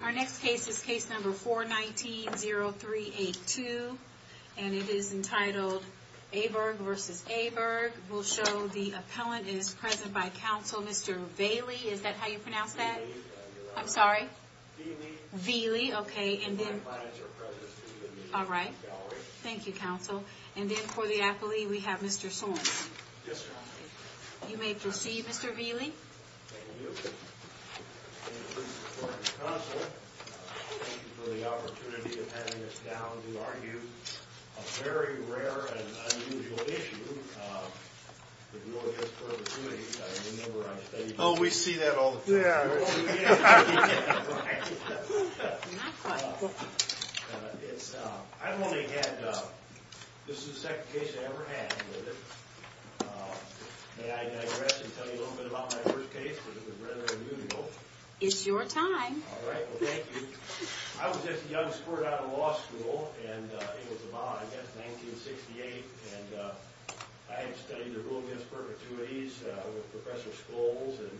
Our next case is case number 419-0382, and it is entitled Aaberg v. Aaberg. We'll show the appellant is present by counsel, Mr. Vailley. Is that how you pronounce that? I'm sorry. Vailley. Okay. All right. Thank you, counsel. And then for the appellee, we have Mr. Swanson. You may proceed, Mr. Vailley. Thank you for the opportunity of having us down to argue a very rare and unusual issue with no guest for the committee. I remember I said... Oh, we see that all the time. Yeah. I've only had, this is the second case I ever had with it. May I digress and tell you a little bit about my first case, because it was rather unusual? It's your time. All right. Well, thank you. I was just a young sport out of law school, and I think it was about, I guess, 1968. And I had studied the rule against perpetuities with Professor Scholes and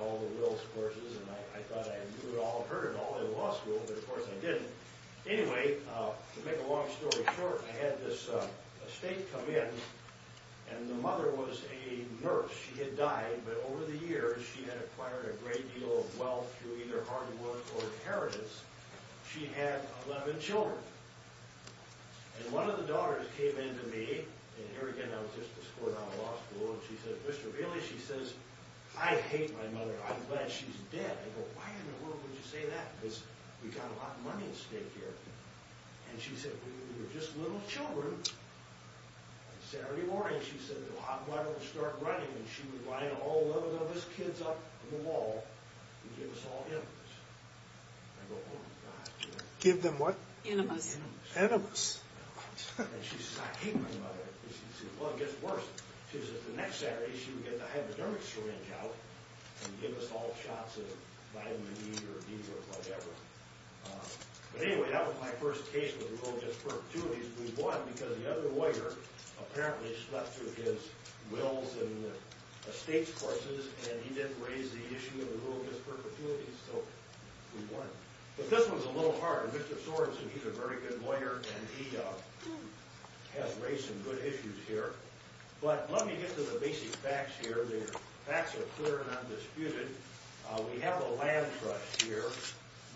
all the wills courses, and I thought I knew it all, heard it all in law school, but of course I didn't. Anyway, to make a long story short, I had this estate come in, and the mother was a nurse. She had died, but over the years, she had acquired a great deal of wealth through either hard work or inheritance. She had 11 children. And one of the daughters came in to me, and here again, I was just a sport out of law school, and she said, Mr. Bailey, she says, I hate my mother. I'm glad she's dead. I go, why in the world would you say that? Because we got a lot of money at stake here. And she said, we were just little children. And Saturday morning, she said, the hot water would start running, and she would line all 11 of us kids up in the wall and give us all enemas. I go, oh my god. Give them what? Enemas. Enemas. Enemas. And she says, I hate my mother. Well, it gets worse. She says, the next Saturday, she would get the hypodermic syringe out and give us all shots of vitamin E or D or whatever. But anyway, that was my first case with the rule against perpetuities. We won because the other lawyer apparently slept through his wills and the state's forces, and he didn't raise the issue of the rule against perpetuities. So we won. But this one's a little harder. Mr. Sorenson, he's a very good lawyer, and he has raised some good issues here. But let me get to the basic facts here. The facts are clear and undisputed. We have a land trust here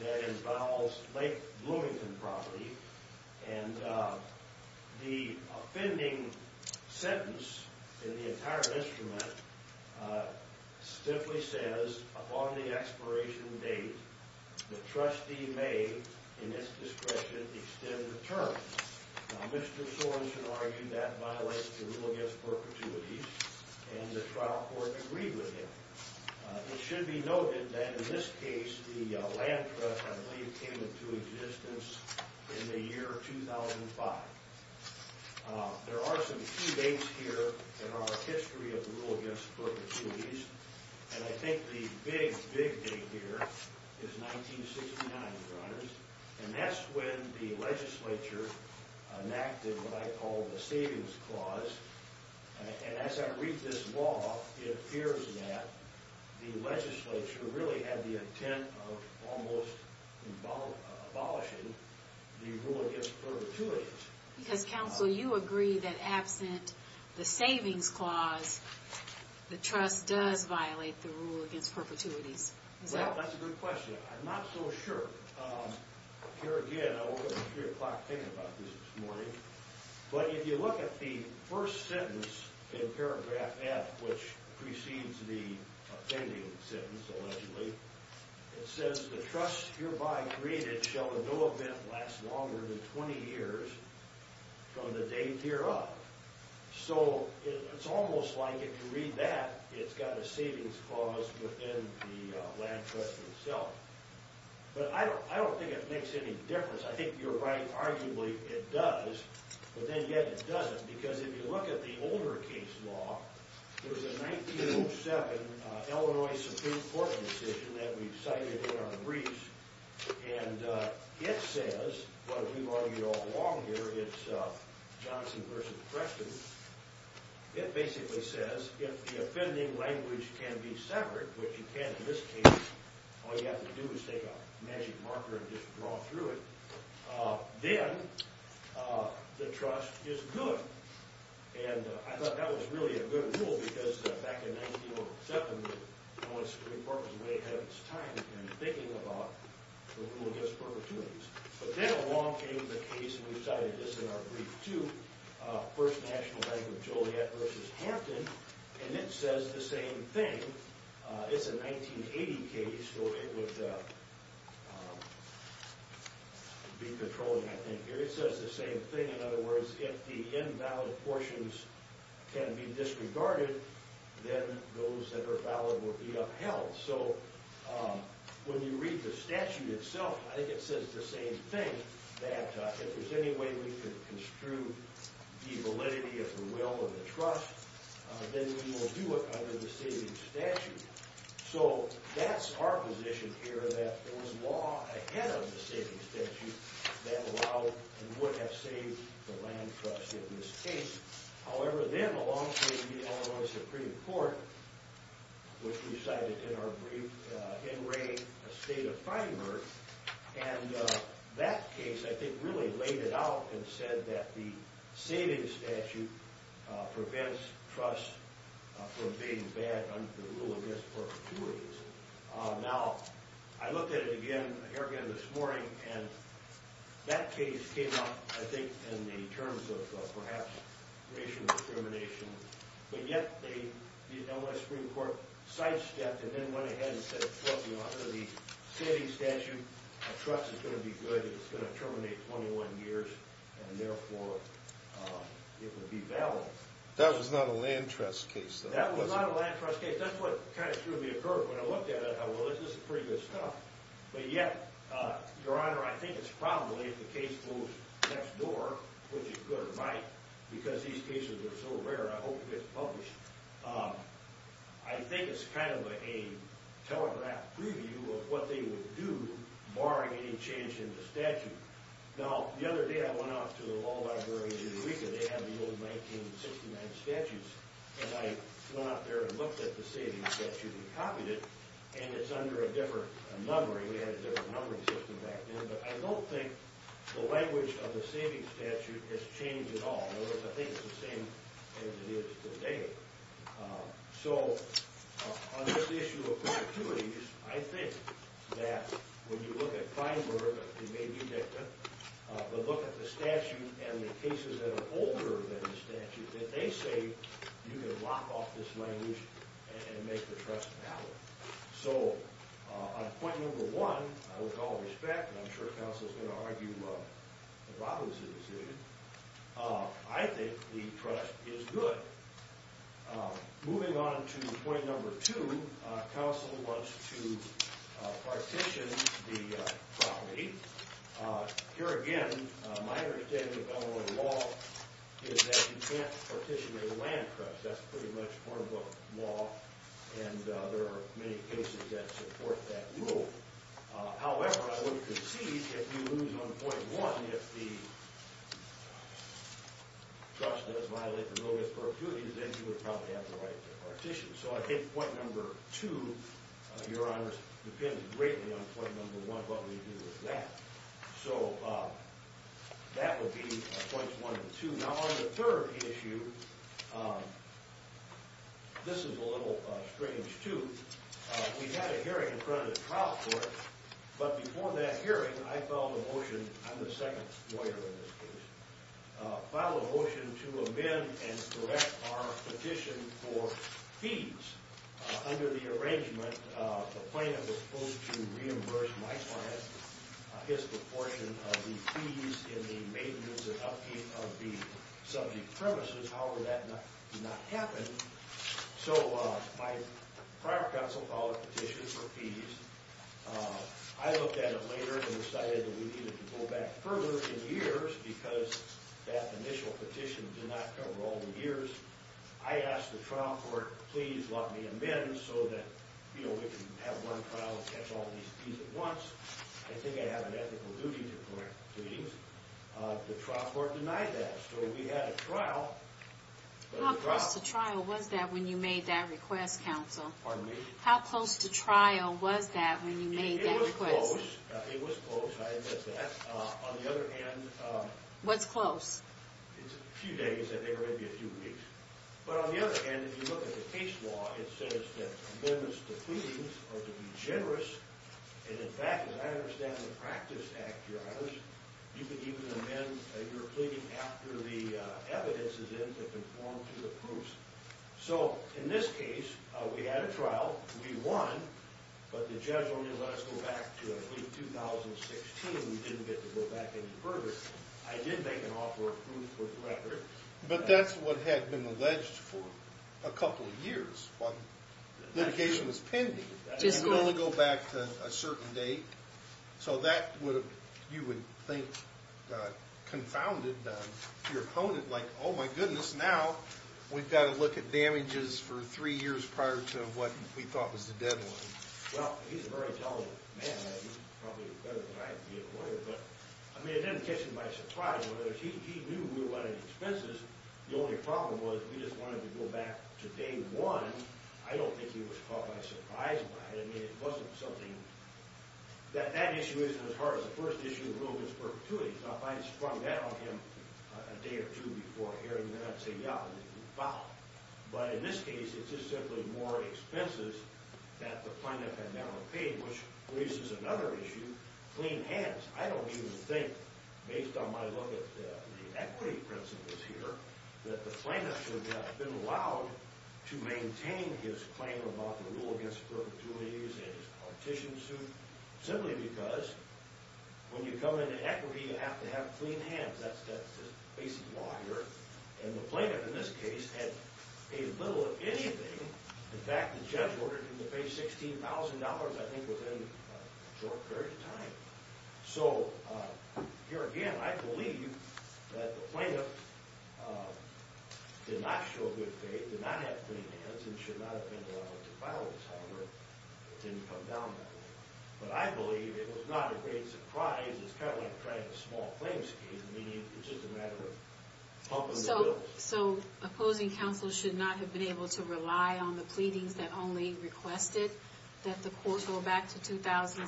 that involves Lake Sentence. And the entire instrument simply says, upon the expiration date, the trustee may, in its discretion, extend the term. Now, Mr. Sorenson argued that violates the rule against perpetuities, and the trial court agreed with him. It should be noted that in this case, the land trust, I believe, came into existence in the year 2005. There are some key dates here in our history of the rule against perpetuities, and I think the big, big date here is 1969, Your Honors. And that's when the legislature enacted what I call the Savings Clause. And as I read this law, it appears that the legislature really had the intent of almost abolishing the rule against perpetuities. Because, counsel, you agree that absent the Savings Clause, the trust does violate the rule against perpetuities. Well, that's a good question. I'm not so sure. Here again, I woke up at 3 o'clock thinking about this this morning. But if you look at the first sentence in paragraph F, which precedes the offending sentence, allegedly, it says, The trust hereby created shall in no event last longer than 20 years from the date hereof. So it's almost like, if you read that, it's got a Savings Clause within the land trust itself. But I don't think it makes any difference. I think you're right. Arguably, it does. But then yet, it doesn't. Because if you look at the older case law, there's a 1907 Illinois Supreme Court decision that we've cited in our briefs. And it says, what we've argued all along here, it's Johnson v. Preston. It basically says, if the offending language can be severed, which it can in this case, all you have to do is take a magic marker and just draw through it. Then the trust is good. And I thought that was really a good rule, because back in 1907, Illinois Supreme Court was way ahead of its time in thinking about the rule against perpetuities. But then along came the case, and we cited this in our brief too, First National Bank of Joliet v. Hampton. And it says the same thing. It's a 1980 case. So it would be controlling, I think, here. It says the same thing. In other words, if the invalid portions can be disregarded, then those that are valid will be upheld. So when you read the statute itself, I think it says the same thing, that if there's any way we can construe the validity of the will of the trust, then we will do it under the savings statute. So that's our position here, that there was law ahead of the savings statute that allowed and would have saved the land trust in this case. However, then along came the Illinois Supreme Court, which we cited in our brief, Henry v. Estate of Feinberg. And that case, I think, really laid it out and said that the trust from being bad under the rule of misperpetuities. Now, I looked at it again this morning, and that case came up, I think, in the terms of, perhaps, racial discrimination. But yet the Illinois Supreme Court sidestepped and then went ahead and said, well, you know, under the savings statute, a trust is going to be good. It's going to terminate 21 years, and therefore, it would be valid. That was not a land trust case, though. That was not a land trust case. That's what kind of threw me a curve when I looked at it. I thought, well, this is pretty good stuff. But yet, your honor, I think it's probably, if the case goes next door, which is good or might, because these cases are so rare, I hope it gets published, I think it's kind of a telegraph preview of what they would do barring any change in the statute. Now, the other day I went out to the law library in Eureka. They have the old 1969 statutes, and I went up there and looked at the savings statute and copied it, and it's under a different numbering. We had a different numbering system back then, but I don't think the language of the savings statute has changed at all. In other words, I think it's the same as it is today. So, on this issue of perpetuities, I think that when you look at Feinberg, he may be a victim, but look at the statute and the cases that are older than the statute, that they say you can lock off this language and make the trust valid. So, on point number one, out of all respect, and I'm sure counsel's going to argue the problem's a decision, I think the trust is good. Moving on to point number two, counsel wants to partition the property. Here again, my understanding of Illinois law is that you can't partition a land trust. That's pretty much part of the law, and there are many cases that support that rule. However, I would concede, if you lose on point one, if the trust does violate the no-risk perpetuities, then you would probably have the right to partition. So, I think point two, your honors, depends greatly on point number one, what we do with that. So, that would be points one and two. Now, on the third issue, this is a little strange, too. We had a hearing in front of the trial court, but before that hearing, I filed a motion, I'm the second lawyer in this case, filed a motion to amend and correct our petition for fees. Under the arrangement, the plaintiff was supposed to reimburse my client his proportion of the fees in the maintenance and upkeep of the subject premises. However, that did not happen, so my prior counsel filed a petition for fees. I looked at it later and decided that we needed to go back further in years, because that initial petition did not cover all the years. I asked the trial court, please let me amend so that, you know, we can have one trial and catch all these fees at once. I think I have an ethical duty to correct fees. The trial court denied that, so we had a trial. How close to trial was that when you made that request, counsel? Pardon me? It was close, I admit that. On the other hand... What's close? It's a few days, I think, or maybe a few weeks. But on the other hand, if you look at the case law, it says that amendments to pleadings are to be generous, and in fact, as I understand in the practice act, Your Honors, you can even amend your pleading after the evidence is in to conform to the proofs. So in this case, we had a trial, we won, but the judge only let us go back to, I believe, 2016. We didn't get to go back any further. I did make an offer of proof with records. But that's what had been alleged for a couple of years, but the litigation was pending. Just one. You can only go back to a certain date. So that would have, you would think, confounded your opponent, like, oh my goodness, now we've got to look at damages for three years prior to what we thought was the deadline. Well, he's a very intelligent man. He's probably better than I am to be a lawyer, but I mean, it didn't catch him by surprise. He knew we were running expenses. The only problem was we just wanted to go back to day one. I don't think he was caught by surprise by it. I mean, it wasn't something that that issue isn't as hard as the first issue of the rule was perpetuity. Now, if I had sprung that on him a day or two before hearing that, I'd say, wow. But in this case, it's just simply more expenses that the plaintiff had never paid, which raises another issue, clean hands. I don't even think, based on my look at the equity principles here, that the plaintiff should have been allowed to maintain his claim about the rule against perpetuities and his partition suit, simply because when you come into equity, you have to have clean hands. That's the basic law here. And the plaintiff, in this case, had paid little, if anything. In fact, the judge ordered him to pay $16,000, I think, within a short period of time. So here again, I believe that the plaintiff did not show good faith, did not have clean hands, and should not have been allowed to file this, however. It didn't come down that way. But I believe it was not a great surprise. It's kind of like trying a small claim scheme, meaning it's just a matter of pumping the bill. So opposing counsel should not have been able to rely on the pleadings that only requested that the court go back to 2016?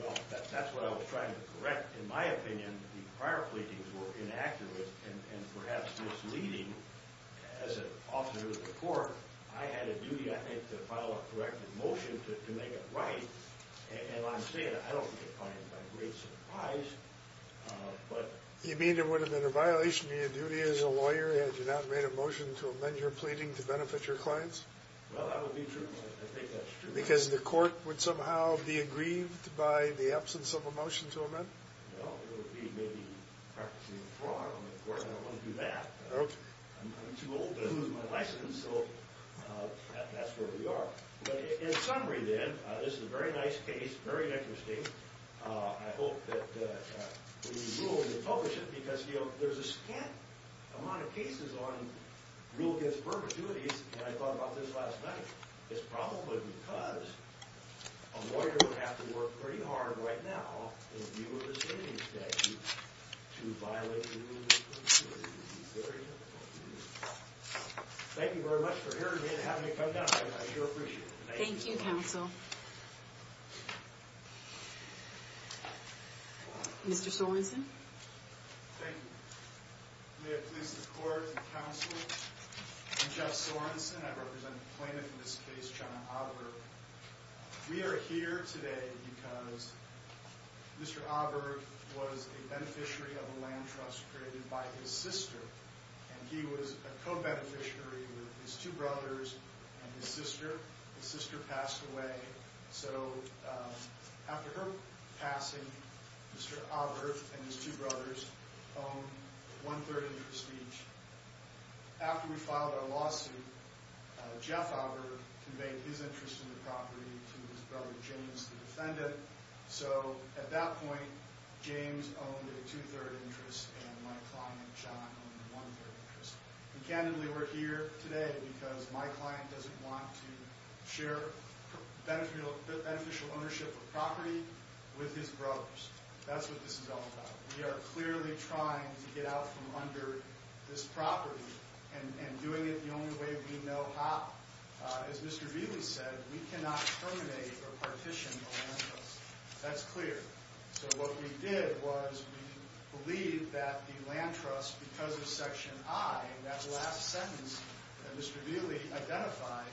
Well, that's what I was trying to correct. In my opinion, the prior pleadings were inaccurate, and perhaps misleading. As an officer of the court, I had a duty, I think, to file a corrective motion to make it right. And I'm saying, I don't define it by great surprise. You mean it would have been a violation of your duty as a lawyer had you not made a motion to amend your pleading to benefit your clients? Well, that would be true. I think that's true. Because the court would somehow be aggrieved by the absence of a motion to amend? No, it would be maybe practicing fraud on the court. I don't want to do that. I'm too old to lose my license, so that's where we are. But in summary, then, this is a very nice case, very interesting. I hope that when you rule and you publish it, because there's a scant amount of cases on rule against perpetuities, and I thought about this last night. It's probably because a lawyer would have to work pretty hard right now, in view of the standing statute, to violate a rule against perpetuities. It would be very difficult. Thank you very much for hearing me and having me come down. I sure appreciate it. Thank you, counsel. Mr. Sorensen? Thank you. May it please the court and counsel, I'm Jeff Sorensen. I represent the plaintiff in this case, John Auberg. We are here today because Mr. Auberg was a beneficiary of a land trust created by his sister, and he was a co-beneficiary with his two brothers and his sister. His sister passed away, so after her passing, Mr. Auberg and his two brothers owned one-third interest each. After we filed our lawsuit, Jeff Auberg conveyed his interest in the property to his brother James, the defendant. So at that point, James owned a two-third interest, and my client, John, owned a one-third interest. And candidly, we're here today because my client doesn't want to share beneficial ownership of property with his brothers. That's what this is all about. We are clearly trying to get out from under this property and doing it the only way we know how. As Mr. Vealy said, we cannot terminate or partition a land trust. That's clear. So what we did was we believed that the land trust, because of Section I, that last sentence that Mr. Vealy identified,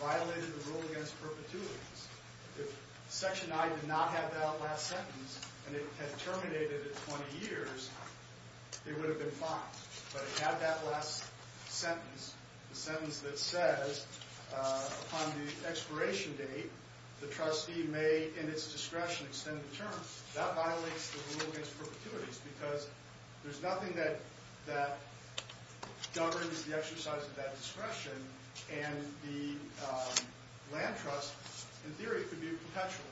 violated the rule against perpetuities. If Section I did not have that last sentence, and it had terminated at 20 years, it would have been fined. But it had that last sentence, the sentence that says, upon the expiration date, the trustee may, in its discretion, extend the term. That violates the rule against perpetuities, because there's nothing that governs the exercise of that discretion, and the land trust, in theory, could be a perpetual.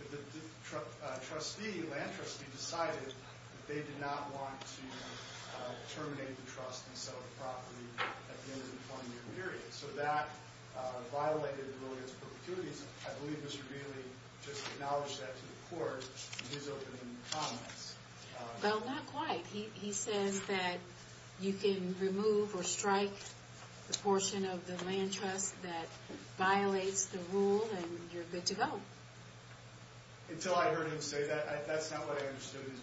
If the trustee, land trustee, decided that they did not want to terminate the trust and sell the property at the end of the 20-year period. So that violated the rule against perpetuities. I don't know if Mr. Vealy acknowledged that to the court in his opening comments. Well, not quite. He says that you can remove or strike the portion of the land trust that violates the rule, and you're good to go. Until I heard him say that, that's not what I understood his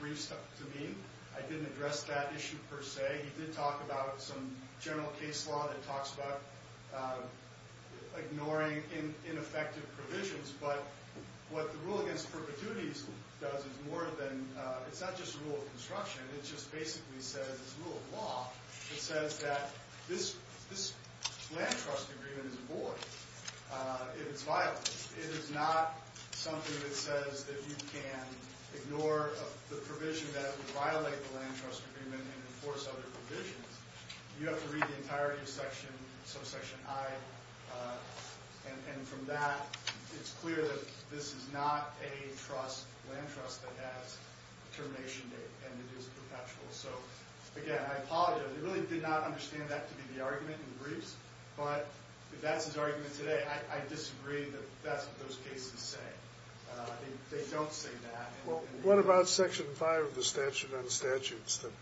briefs to mean. I didn't address that issue, per se. He did talk about some general case law that talks about ignoring ineffective provisions, but what the rule against perpetuities does is more than, it's not just a rule of construction, it just basically says, it's a rule of law, it says that this land trust agreement is void if it's violated. It is not something that says that you can ignore the provision that would violate the land trust agreement and enforce other provisions. You have to read the entirety of subsection I, and from that, it's clear that this is not a land trust that has a termination date, and it is perpetual. So again, I apologize. I really did not understand that to be the argument in the briefs, but if that's his argument today, I disagree that that's what those cases say. They don't say that. What about section 5 of the statute on statutes that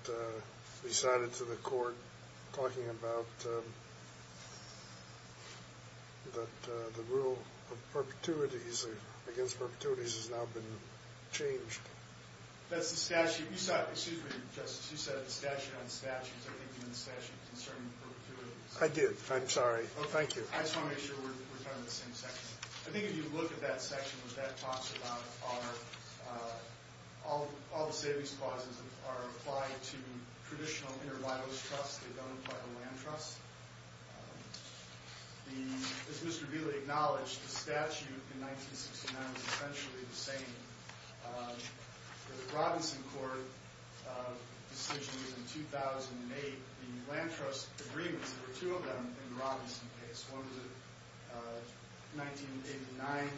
he cited to the court, talking about that the rule of perpetuities against perpetuities has now been changed? That's the statute. You said, excuse me, Justice, you said the statute on statutes, I think you meant the statute concerning perpetuities. I did. I'm sorry. Thank you. I just want to make sure we're talking about the same section. I think if you look at that section, what that talks about are all the savings clauses that are applied to traditional intervitals trusts that don't apply to land trusts. As Mr. Vealey acknowledged, the statute in 1969 was essentially the same. The Robinson court decision was in 2008. The land trust agreements, there were two of them in the Robinson case. One was a 1989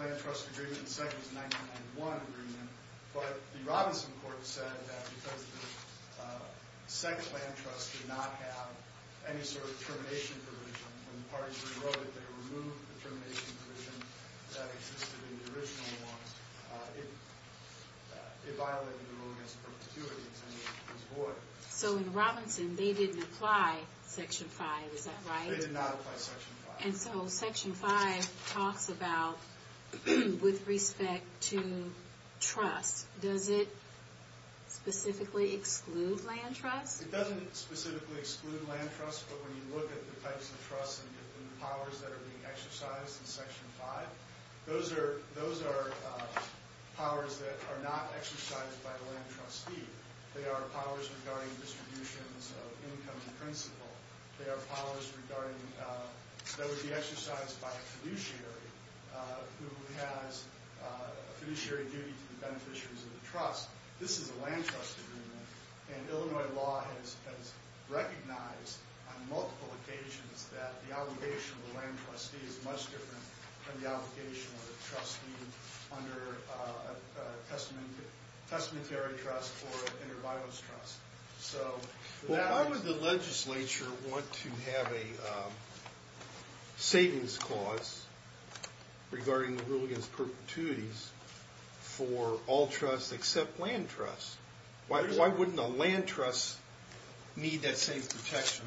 land trust agreement. The second was a 1991 agreement. But the Robinson court said that because the second land trust did not have any sort of termination provision, when the parties rewrote it, they removed the termination provision that existed in the original one. It violated the rule against perpetuities. So in Robinson, they didn't apply Section 5, is that right? They did not apply Section 5. And so Section 5 talks about, with respect to trust, does it specifically exclude land trusts? It doesn't specifically exclude land trusts, but when you look at the types of trusts and the powers that are being exercised in Section 5, those are powers that are not exercised by a land trustee. They are powers regarding distributions of income and principal. They are powers that would be exercised by a fiduciary, who has a fiduciary duty to the beneficiaries of the trust. This is a land trust agreement, and Illinois law has recognized on multiple occasions that the obligation of the land trustee is much different from the obligation of the testamentary trust or an inter-bios trust. So why would the legislature want to have a savings clause regarding the rule against perpetuities for all trusts except land trusts? Why wouldn't a land trust need that same protection?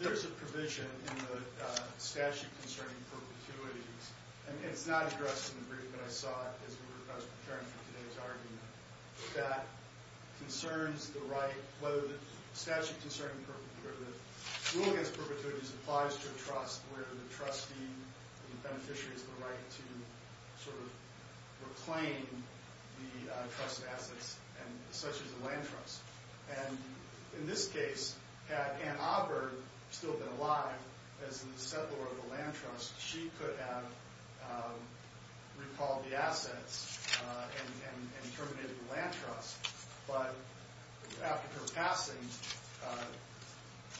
There's a provision in the statute concerning perpetuities, and it's not addressed in the argument for today's argument, that concerns the right, whether the statute concerning the rule against perpetuities applies to a trust where the trustee, the beneficiary, has the right to sort of reclaim the trust assets, such as a land trust. And in this case, Aunt Auburn, still been alive, as the settler of the land trust, she could have recalled the assets and terminated the land trust. But after her passing,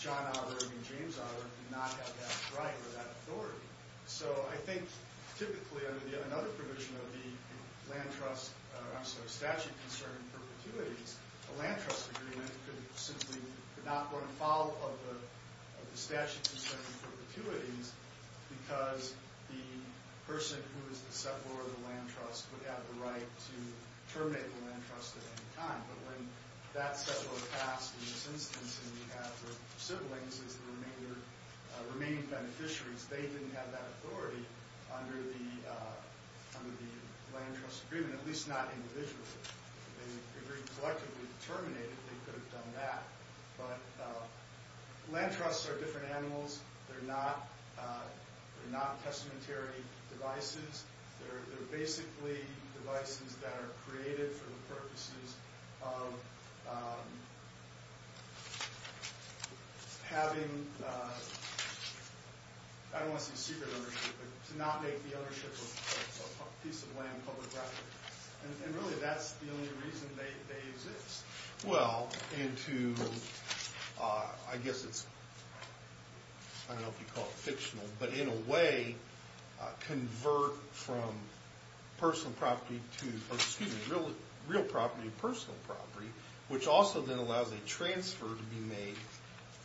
John Auburn and James Auburn did not have that right or that authority. So I think typically under another provision of the statute concerning perpetuities, a land trust agreement could simply not go in follow-up of the statute concerning perpetuities because the person who is the settler of the land trust would have the right to terminate the land trust at any time. But when that settler passed in this instance, and you have the siblings as the remaining beneficiaries, they didn't have that authority under the land trust agreement, at least not individually. They agreed collectively to terminate it, they could have done that. But land trusts are different animals, they're not testamentary devices, they're basically devices that are created for the purposes of having, I don't want to say secret ownership, to not make the ownership of a piece of land public property. And really that's the only reason they exist. Well, and to, I guess it's, I don't know if you'd call it fictional, but in a way convert from personal property to, excuse me, real property to personal property, which also then allows a transfer to be made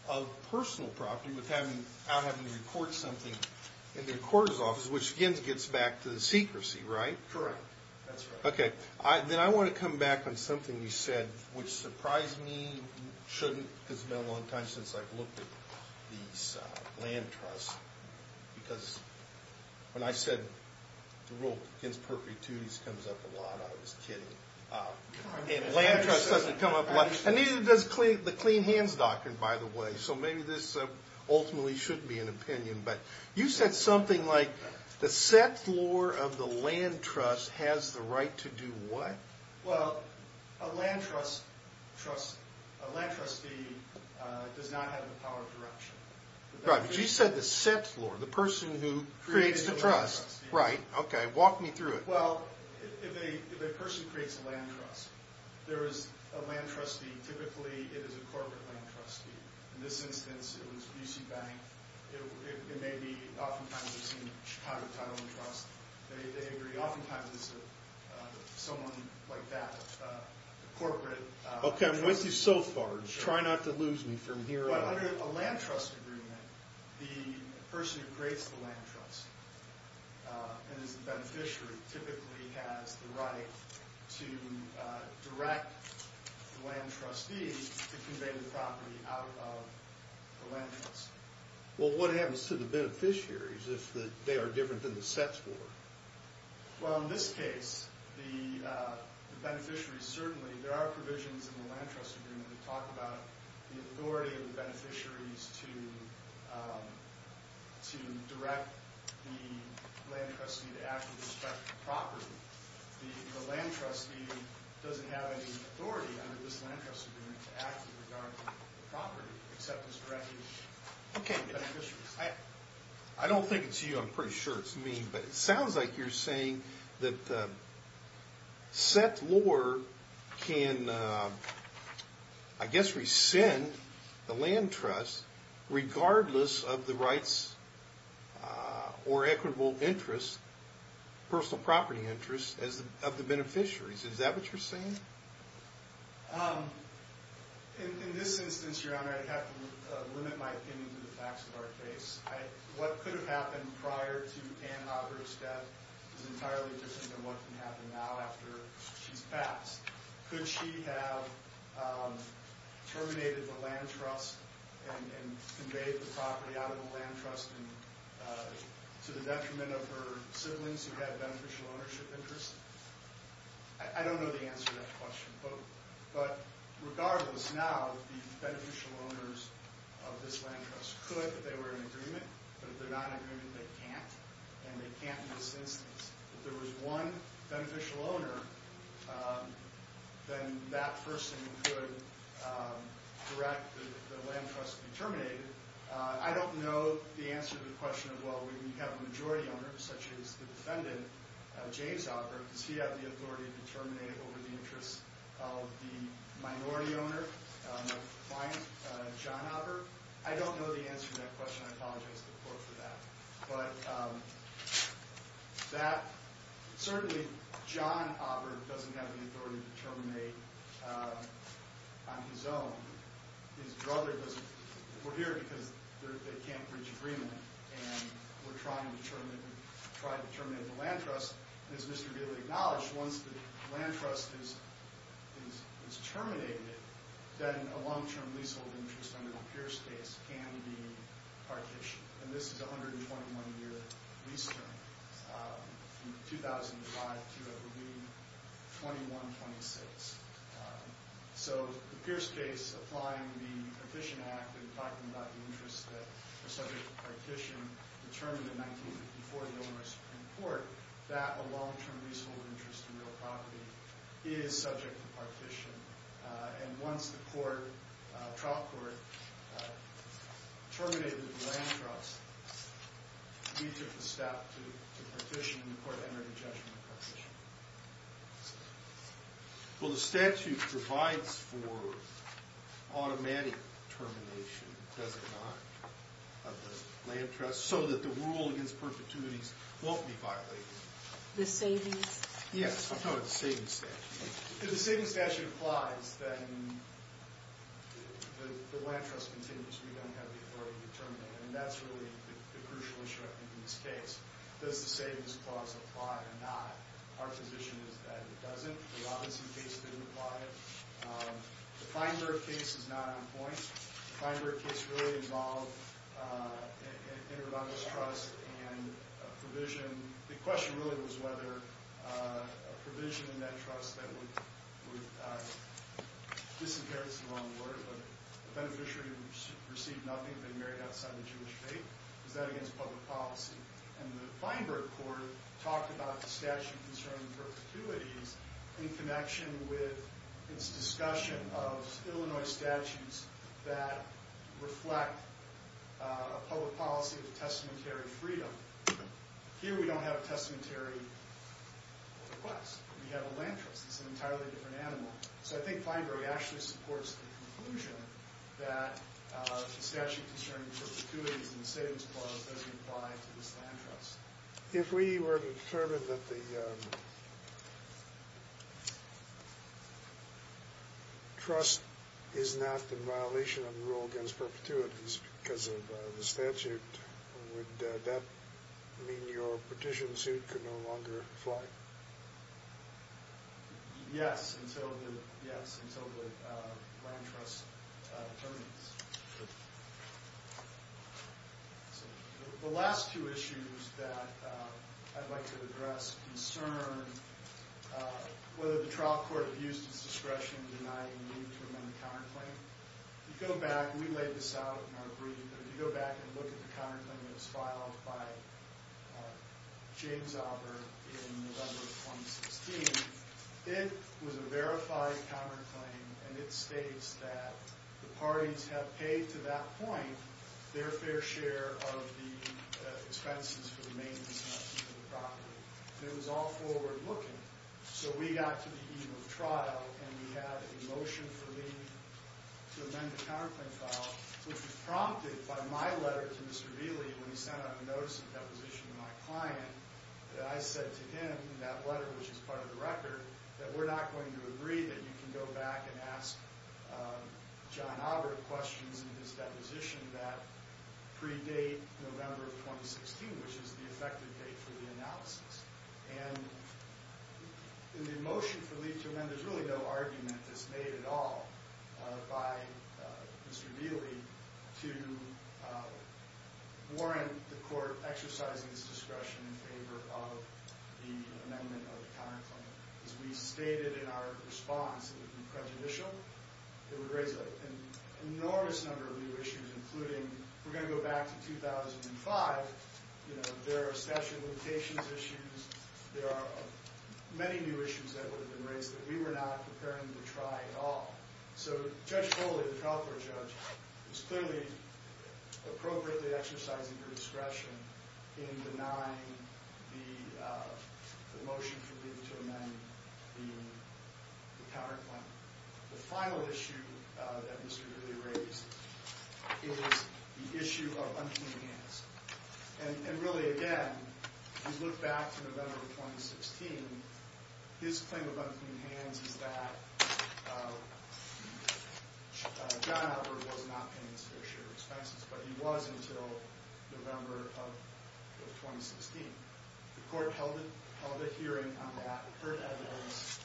of personal property without having to record something in the court's office, which again gets back to the secrecy, right? Correct, that's right. Okay, then I want to come back on something you said, which surprised me, shouldn't, because it's been a long time since I've looked at these land trusts, because when I said the rule against perpetuities comes up a lot, I was kidding. And land trusts doesn't come up a lot, and neither does the Clean Hands Doctrine, by the way, so maybe this ultimately should be an opinion but you said something like the set floor of the land trust has the right to do what? Well, a land trust trustee, a land trustee does not have the power of direction. Right, but you said the set floor, the person who creates the trust. Right. Okay, walk me through it. Well, if a person creates a land trust, there is a land trustee, typically it is a corporate land trustee, and maybe oftentimes you've seen Chicago Title and Trust, they agree, oftentimes it's someone like that, a corporate trustee. Okay, I've went through so far, try not to lose me from here on. But under a land trust agreement, the person who creates the land trust and is the beneficiary typically has the right to direct the land trustee to convey the property out of the land trust. Well, what happens to the beneficiaries if they are different than the set floor? Well, in this case, the beneficiary certainly, there are provisions in the land trust agreement that talk about the authority of the beneficiaries to direct the land trustee to act with respect to the property. The land trustee doesn't have any authority under this land trust agreement to act with respect to the property, except as directed by the beneficiaries. I don't think it's you. I'm pretty sure it's me. But it sounds like you're saying that the set floor can, I guess, rescind the land trust regardless of the rights or equitable interests, personal property interests of the beneficiaries. Is that what you're saying? In this instance, Your Honor, I'd have to limit my opinion to the facts of our case. What could have happened prior to Ann Hauger's death is entirely different than what can happen now after she's passed. Could she have terminated the land trust and conveyed the property out of the land trust to the detriment of her siblings who had beneficial ownership interests? I don't know the answer to that question. But regardless now, the beneficial owners of this land trust could, if they were in agreement. But if they're not in agreement, they can't. And they can't in this instance. If there was one beneficial owner, then that person could direct the land trust to be terminated. I don't know the answer to the question of, well, we have a majority owner, such as the authority to terminate it over the interests of the minority owner, the client, John Aubert. I don't know the answer to that question. I apologize to the court for that. But certainly, John Aubert doesn't have the authority to terminate on his own. His brother doesn't. We're here because they can't reach agreement. And we're trying to terminate the land trust. As Mr. Gidley acknowledged, once the land trust is terminated, then a long-term leasehold interest under the Pierce case can be partitioned. And this is a 121-year lease term from 2005 to, I believe, 2126. So the Pierce case, applying the Efficient Act, and talking about the interests that are subject to partition, determined in 1954 in the Illinois Supreme Court that a long-term leasehold interest in real property is subject to partition. And once the trial court terminated the land trust, we took the staff to the partition, and the court entered a judgment of partition. Well, the statute provides for automatic termination, does it not, of the land trust, so that the rule against perpetuities won't be violated. The savings? Yes. I'm talking about the savings statute. If the savings statute applies, then the land trust continues. We don't have the authority to terminate. And that's really the crucial issue, I think, in this case. Does the savings clause apply or not? Our position is that it doesn't. The Robinson case didn't apply it. The Feinberg case is not on point. The Feinberg case really involved an irrevocable trust and a provision. The question really was whether a provision in that trust that would disinherit, is the wrong word, but the beneficiary received nothing, had been married outside the Jewish faith. Is that against public policy? And the Feinberg court talked about the statute concerning perpetuities in connection with its discussion of Illinois statutes that reflect a public policy of testamentary freedom. Here, we don't have a testamentary request. We have a land trust. It's an entirely different animal. So I think Feinberg actually supports the conclusion that the statute concerning perpetuities in the savings clause doesn't apply to this land trust. If we were to determine that the trust is not in violation of the rule against perpetuities because of the statute, would that mean your petition suit could no longer fly? Yes, until the land trust terminates. So the last two issues that I'd like to address concern whether the trial court abused its discretion in denying the need to amend the counterclaim. If you go back, we laid this out in our brief, but if you go back and look at the counterclaim that was filed by James Aubert in November of 2016, it was a verified counterclaim and it states that the parties have paid to that point their fair share of the expenses for the maintenance and upkeep of the property. It was all forward-looking. So we got to the eve of trial and we had a motion for leave to amend the counterclaim file, which was prompted by my letter to Mr. Vealey when he sent out a notice of deposition to my client that I said to him in that letter, which is part of the record, that we're not going to agree that you can go back and ask John Aubert questions in his deposition that predate November of 2016, which is the effective date for the analysis. And in the motion for leave to amend, there's really no argument that's made at all by Mr. Vealey to warrant the court exercising its discretion in favor of the amendment of the counterclaim. As we stated in our response, it would be prejudicial. It would raise an enormous number of new issues, including we're going to go back to 2005. You know, there are statute of limitations issues. There are many new issues that would have been raised that we were not preparing to try at all. So Judge Foley, the trial court judge, is clearly appropriately exercising her discretion in denying the motion for leave to amend the counterclaim. The final issue that Mr. Vealey raised is the issue of unclean hands. And really, again, if you look back to November of 2016, his claim of unclean hands is that John Albert was not paying his fair share of expenses. But he was until November of 2016. The court held a hearing on that, heard evidence,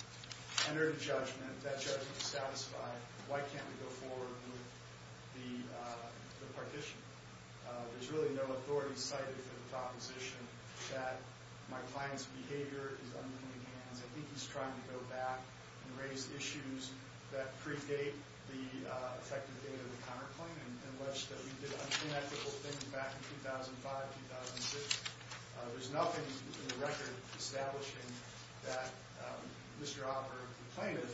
entered a judgment. That judgment was satisfied. Why can't we go forward with the partition? There's really no authority cited for the proposition that my client's behavior is unclean hands. I think he's trying to go back and raise issues that predate the effective date of the counterclaim in which we did unethical things back in 2005, 2006. There's nothing in the record establishing that Mr. Albert, the plaintiff,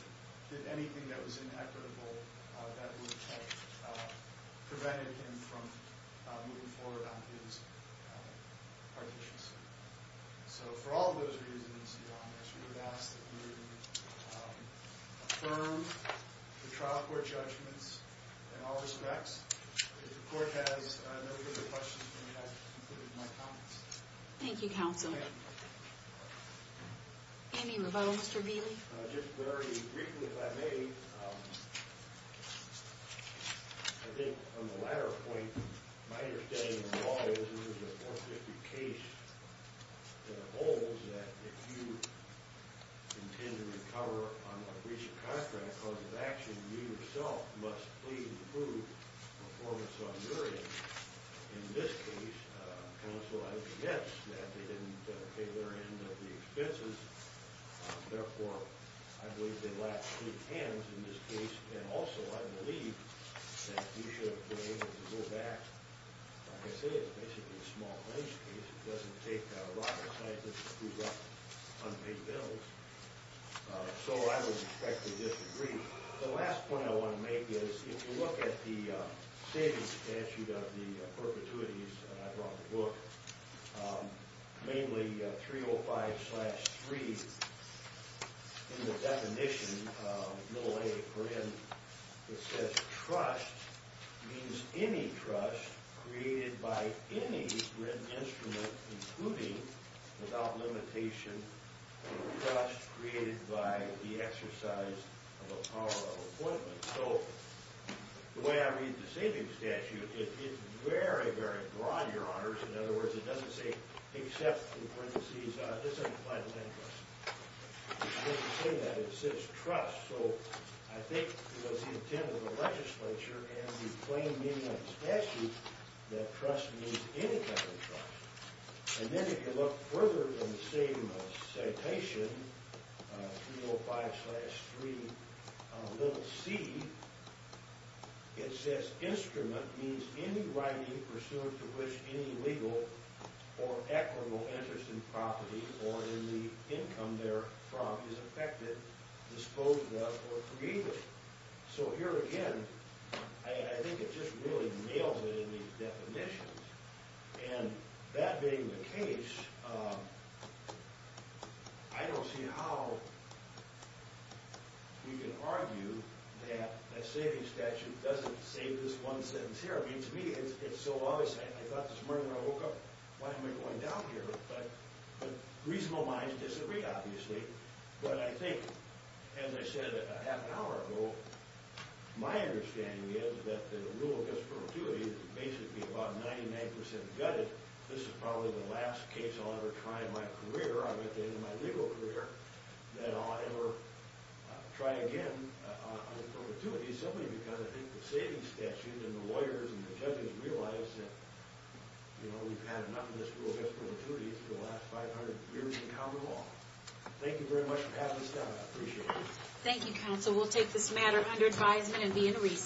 did anything that was inequitable that would have prevented him from moving forward on his partitions. So for all of those reasons, we would ask that we would affirm the trial court judgments in all respects. If the court has no further questions, let me ask you to conclude with my comments. Thank you, counsel. Okay. Anything in the vote, Mr. Vealey? Just very briefly, if I may. I think on the latter point, my understanding of the law is that there was an that it holds that if you intend to recover on a breach of contract, cause of action, you yourself must please improve performance on your end. In this case, counsel, I would suggest that they didn't pay their end of the expenses. Therefore, I believe they lacked clean hands in this case. And also, I believe that you should have been able to go back. Like I said, it's basically a small claims case. It doesn't take a lot of time to approve unpaid bills. So I would respectfully disagree. The last point I want to make is if you look at the savings statute of the perpetuities that I brought the book, mainly 305-3 in the definition, little a for N, it says trust means any trust created by any written instrument, including, without limitation, trust created by the exercise of a power of appointment. So the way I read the savings statute, it's very, very broad, your honors. In other words, it doesn't say except in parentheses. This is a final interest. It doesn't say that. It says trust. So I think it was the intent of the legislature and the plain meaning of the statute that trust means any type of trust. And then if you look further in the same citation, 305-3, little c, it says instrument means any writing pursuant to which any legal or equitable interest in property or in the income therefrom is affected, disposed of, or created. So here again, I think it just really nails it in these definitions. And that being the case, I don't see how you can argue that a savings statute doesn't save this one sentence here. I mean, to me, it's so obvious. I thought this morning when I woke up, why am I going down here? But reasonable minds disagree, obviously. But I think, as I said a half an hour ago, my understanding is that the rule against perpetuity is basically about 99% gutted. This is probably the last case I'll ever try in my career, at the end of my legal career, that I'll ever try again on perpetuity simply because I think the savings statute and the rule against perpetuity is the last 500 years in common law. Thank you very much for having us down here. I appreciate it. Thank you, counsel. We'll take this matter under advisement and be in recess.